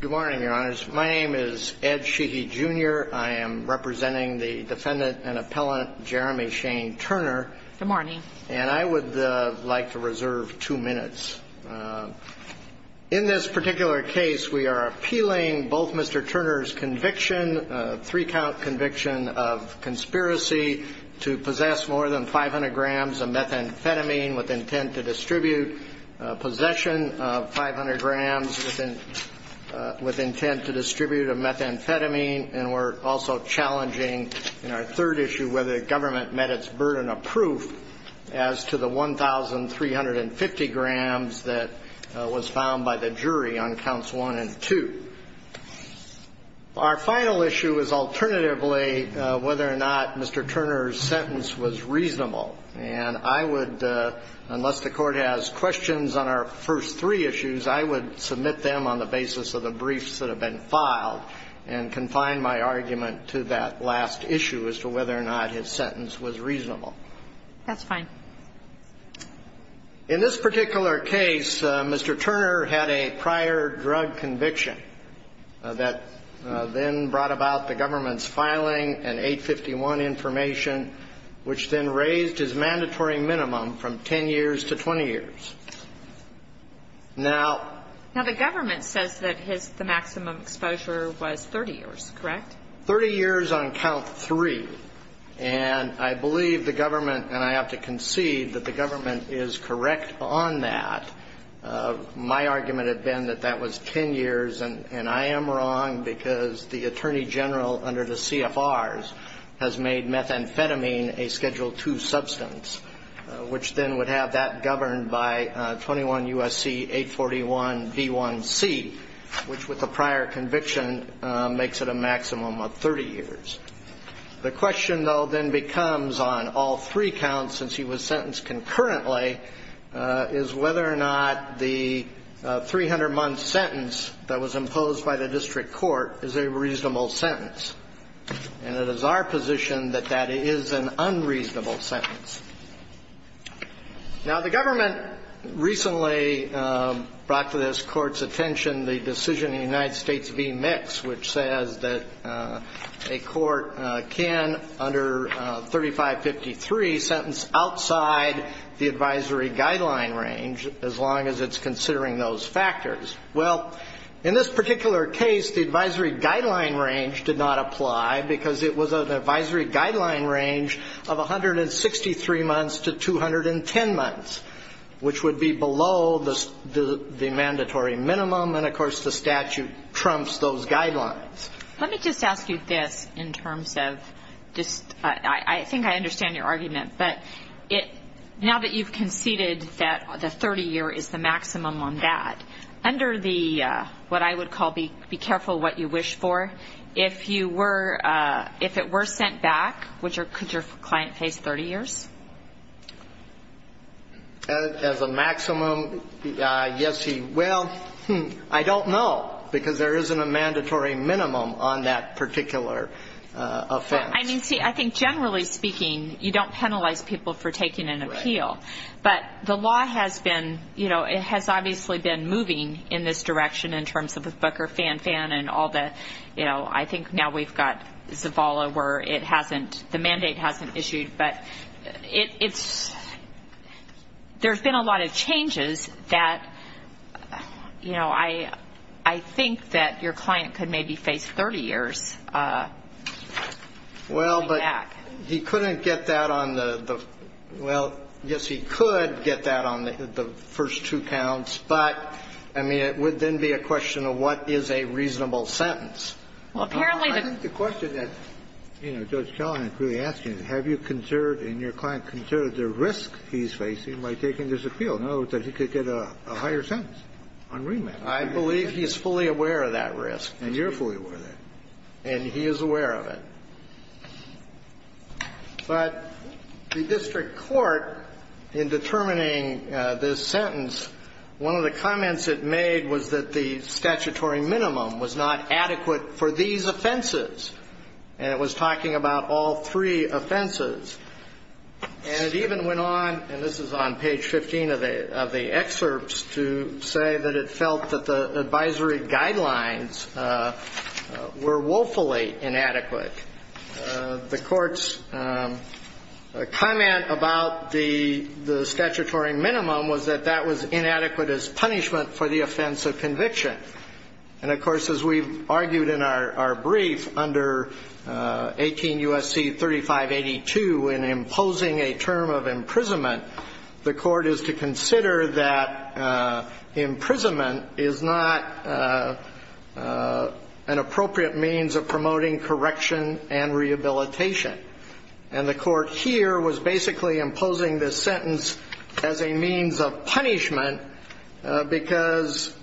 Good morning, your honors. My name is Ed Sheehy Jr. I am representing the defendant and appellant Jeremy Shane Turner. Good morning. And I would like to reserve two minutes. In this particular case, we are appealing both Mr. Turner's conviction, a three-count conviction of conspiracy to possess more than 500 grams of methamphetamine with intent to distribute possession of 500 grams with intent to distribute a methamphetamine. And we're also challenging in our third issue whether the government met its burden of proof as to the 1,350 grams that was found by the jury on counts one and two. Our final issue is alternatively whether or not Mr. Turner's sentence was reasonable. And I would, unless the Court has questions on our first three issues, I would submit them on the basis of the briefs that have been filed and confine my argument to that last issue as to whether or not his sentence was reasonable. That's fine. In this particular case, Mr. Turner had a prior drug conviction that then brought about the government's filing and 851 information, which then raised his mandatory minimum from 10 years to 20 years. Now the government says that his the maximum exposure was 30 years, correct? 30 years on count three. And I believe the government, and I have to concede that the government is correct on that. My argument had been that that was 10 years. And I am wrong because the Attorney General under the CFRs has made methamphetamine a Schedule II substance, which then would have that governed by 21 U.S.C. 841 D1C, which with the prior conviction makes it a maximum of 30 years. The question, though, then becomes on all three counts, since he was sentenced concurrently, is whether or not the 300-month sentence that was imposed by the district court is a reasonable sentence. And it is our position that that is an unreasonable sentence. Now the government recently brought to this Court's attention the decision in the United States v. which says that a court can, under 3553, sentence outside the advisory guideline range as long as it's considering those factors. Well, in this particular case, the advisory guideline range did not apply because it was an advisory guideline range of 163 months to 210 months, which would be below the mandatory minimum. And, of course, the statute trumps those guidelines. Let me just ask you this in terms of just – I think I understand your argument. But now that you've conceded that the 30-year is the maximum on that, under the what I would call be careful what you wish for, if it were sent back, could your client face 30 years? As a maximum, yes, he will. I don't know because there isn't a mandatory minimum on that particular offense. I mean, see, I think generally speaking, you don't penalize people for taking an appeal. But the law has been – you know, it has obviously been moving in this direction in terms of the Booker-Fan-Fan and all the – you know, I think now we've got Zavala where it hasn't – the mandate hasn't issued. But it's – there's been a lot of changes that, you know, I think that your client could maybe face 30 years going back. Well, but he couldn't get that on the – well, yes, he could get that on the first two counts. But, I mean, it would then be a question of what is a reasonable sentence. Well, apparently the – I think the question that, you know, Judge Kellman is really asking is have you considered and your client considered the risk he's facing by taking this appeal? In other words, that he could get a higher sentence on remand. I believe he's fully aware of that risk. And you're fully aware of that. And he is aware of it. But the district court in determining this sentence, one of the comments it made was that the statutory minimum was not adequate for these offenses. And it was talking about all three offenses. And it even went on – and this is on page 15 of the excerpts – to say that it felt that the advisory guidelines were woefully inadequate. The court's comment about the statutory minimum was that that was inadequate as punishment for the offense of conviction. And, of course, as we've argued in our brief under 18 U.S.C. 3582 in imposing a term of imprisonment, the court is to consider that imprisonment is not an appropriate means of promoting correction and rehabilitation. And the court here was basically imposing this sentence as a means of punishment because,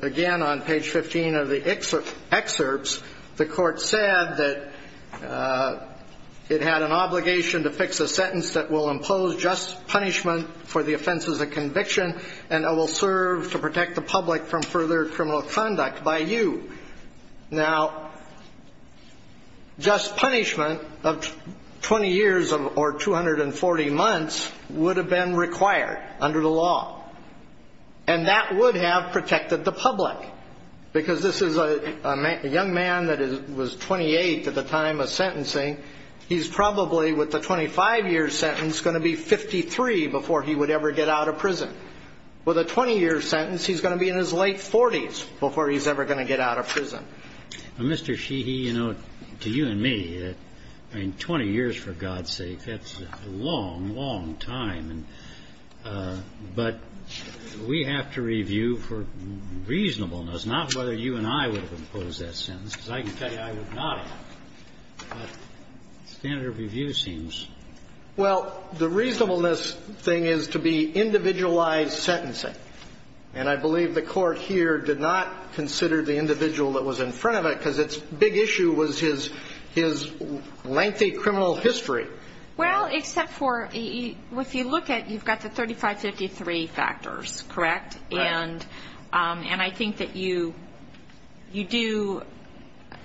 again, on page 15 of the excerpts, the court said that it had an obligation to fix a sentence that will impose just punishment for the offenses of conviction and will serve to protect the public from further criminal conduct by you. Now, just punishment of 20 years or 240 months would have been required under the law. And that would have protected the public because this is a young man that was 28 at the time of sentencing. He's probably, with a 25-year sentence, going to be 53 before he would ever get out of prison. With a 20-year sentence, he's going to be in his late 40s before he's ever going to get out of prison. Mr. Sheehy, you know, to you and me, 20 years, for God's sake, that's a long, long time. But we have to review for reasonableness, not whether you and I would have imposed that sentence, because I can tell you I would not have. But standard of review seems. Well, the reasonableness thing is to be individualized sentencing. And I believe the court here did not consider the individual that was in front of it because its big issue was his lengthy criminal history. Well, except for if you look at it, you've got the 3553 factors, correct? Right. And I think that you do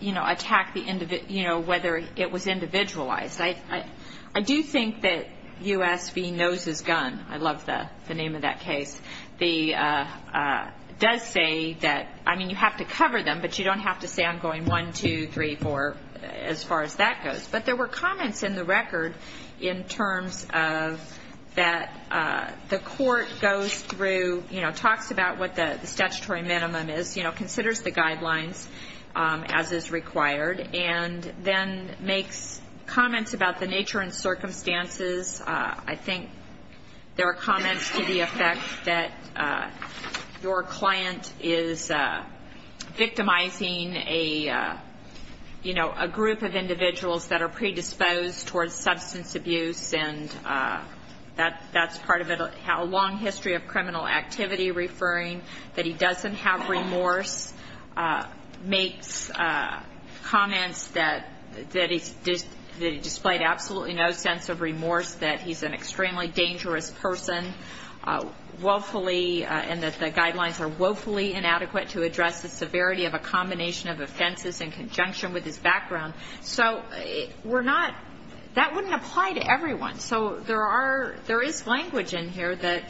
attack whether it was individualized. I do think that U.S. v. Noses Gun, I love the name of that case, does say that, I mean, you have to cover them, but you don't have to say I'm going one, two, three, four, as far as that goes. But there were comments in the record in terms of that the court goes through, you know, talks about what the statutory minimum is, you know, considers the guidelines as is required, and then makes comments about the nature and circumstances. I think there are comments to the effect that your client is victimizing a, you know, a group of individuals that are predisposed towards substance abuse, and that's part of a long history of criminal activity, referring that he doesn't have remorse, makes comments that he displayed absolutely no sense of remorse, that he's an extremely dangerous person, woefully, and that the guidelines are woefully inadequate to address the severity of a combination of offenses in conjunction with his background. So we're not, that wouldn't apply to everyone. So there are, there is language in here that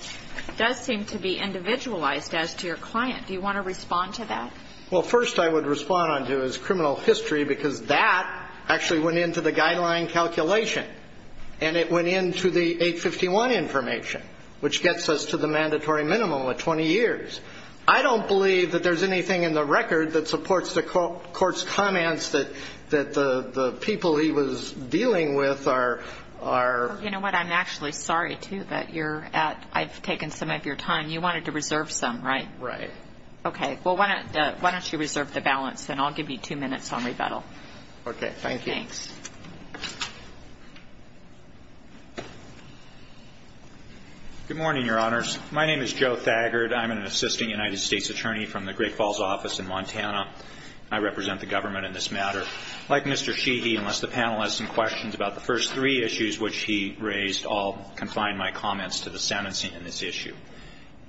does seem to be individualized as to your client. Do you want to respond to that? Well, first I would respond onto is criminal history, because that actually went into the guideline calculation, and it went into the 851 information, which gets us to the mandatory minimum of 20 years. I don't believe that there's anything in the record that supports the court's comments that the people he was dealing with are. You know what, I'm actually sorry, too, that you're at, I've taken some of your time. You wanted to reserve some, right? Right. Okay. Well, why don't you reserve the balance, and I'll give you two minutes on rebuttal. Okay. Thank you. Thanks. Good morning, Your Honors. My name is Joe Thagard. I'm an assisting United States attorney from the Great Falls office in Montana. I represent the government in this matter. Like Mr. Sheehy, unless the panel has some questions about the first three issues which he raised, I'll confine my comments to the sentencing in this issue.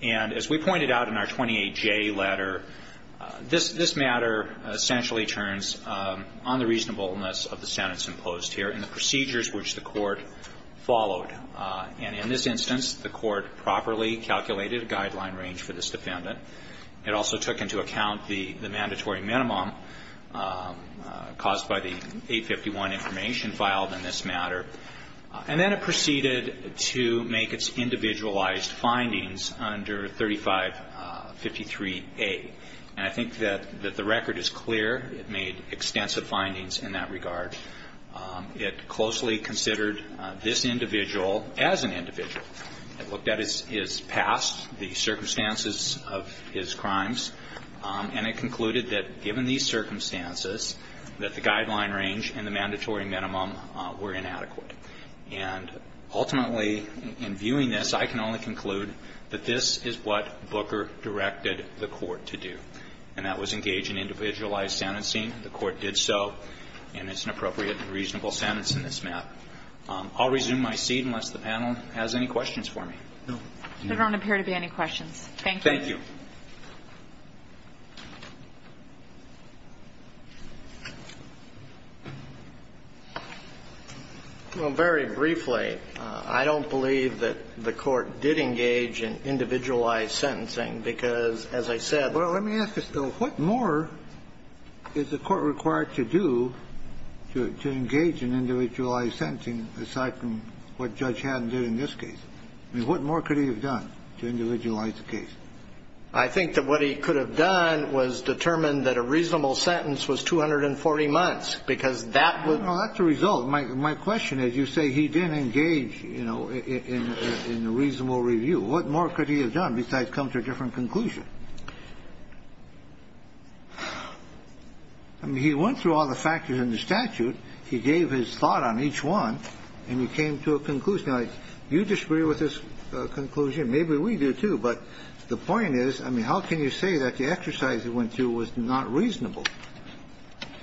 And as we pointed out in our 28J letter, this matter essentially turns on the reasonableness of the sentence imposed here and the procedures which the court followed. And in this instance, the court properly calculated a guideline range for this defendant. It also took into account the mandatory minimum caused by the 851 information filed in this matter. And then it proceeded to make its individualized findings under 3553A. And I think that the record is clear. It made extensive findings in that regard. It closely considered this individual as an individual. It looked at his past, the circumstances of his crimes, and it concluded that given these circumstances, that the guideline range and the mandatory minimum were inadequate. And ultimately, in viewing this, I can only conclude that this is what Booker directed the court to do, and that was engage in individualized sentencing. The court did so. And it's an appropriate and reasonable sentence in this matter. I'll resume my seat unless the panel has any questions for me. No. There don't appear to be any questions. Thank you. Thank you. Well, very briefly, I don't believe that the court did engage in individualized sentencing because, as I said, And that's what I'm trying to get at. Yes. Well, let me ask this, though. What more is the court required to do, to engage in individualized sentencing, aside from what Judge Haddon did in this case? I mean, what more could he have done to individualize the case? I think that what he could have done was determined that a reasonable sentence was 240 months, because that was... No, that's the result. My question is, you say he didn't engage, you know, in a reasonable review. What more could he have done besides come to a different conclusion? I mean, he went through all the factors in the statute. He gave his thought on each one, and he came to a conclusion. Now, you disagree with this conclusion. Maybe we do, too. But the point is, I mean, how can you say that the exercise he went to was not reasonable?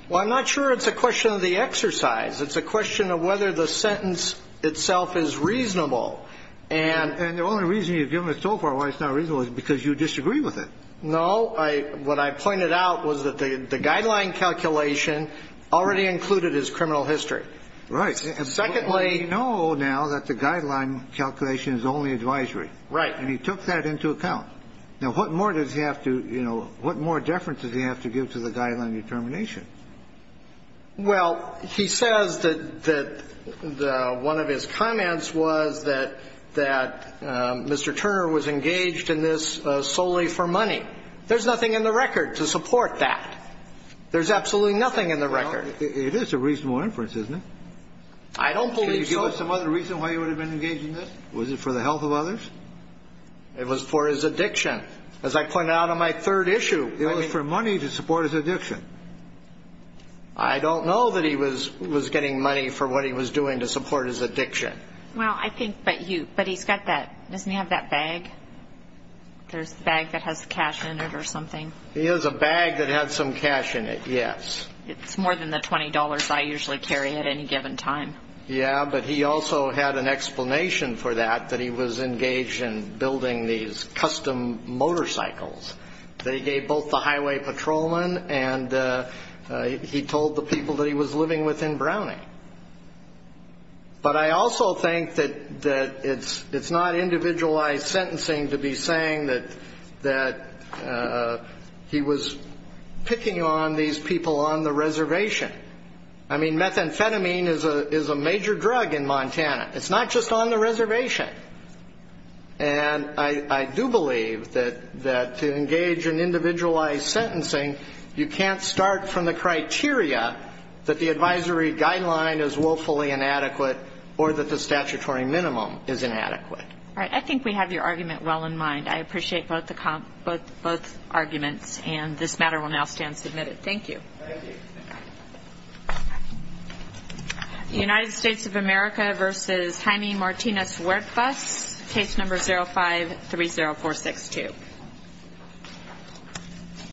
Well, I'm not sure it's a question of the exercise. It's a question of whether the sentence itself is reasonable. And the only reason you've given it so far why it's not reasonable is because you disagree with it. No. What I pointed out was that the guideline calculation already included his criminal history. Right. Secondly... Well, we know now that the guideline calculation is only advisory. Right. And he took that into account. Now, what more does he have to, you know, what more deference does he have to give to the guideline determination? Well, he says that one of his comments was that Mr. Turner was engaged in this solely for money. There's nothing in the record to support that. There's absolutely nothing in the record. Well, it is a reasonable inference, isn't it? I don't believe so. Can you give us some other reason why he would have been engaged in this? Was it for the health of others? It was for his addiction. As I pointed out on my third issue... It was for money to support his addiction. I don't know that he was getting money for what he was doing to support his addiction. Well, I think, but he's got that, doesn't he have that bag? There's a bag that has cash in it or something. He has a bag that has some cash in it, yes. It's more than the $20 I usually carry at any given time. Yeah, but he also had an explanation for that, that he was engaged in building these custom motorcycles. They gave both the highway patrolmen, and he told the people that he was living with in Browning. But I also think that it's not individualized sentencing to be saying that he was picking on these people on the reservation. I mean, methamphetamine is a major drug in Montana. It's not just on the reservation. And I do believe that to engage in individualized sentencing, you can't start from the criteria that the advisory guideline is willfully inadequate or that the statutory minimum is inadequate. All right, I think we have your argument well in mind. I appreciate both arguments, and this matter will now stand submitted. Thank you. Thank you. United States of America v. Jaime Martinez Huertas, case number 0530462.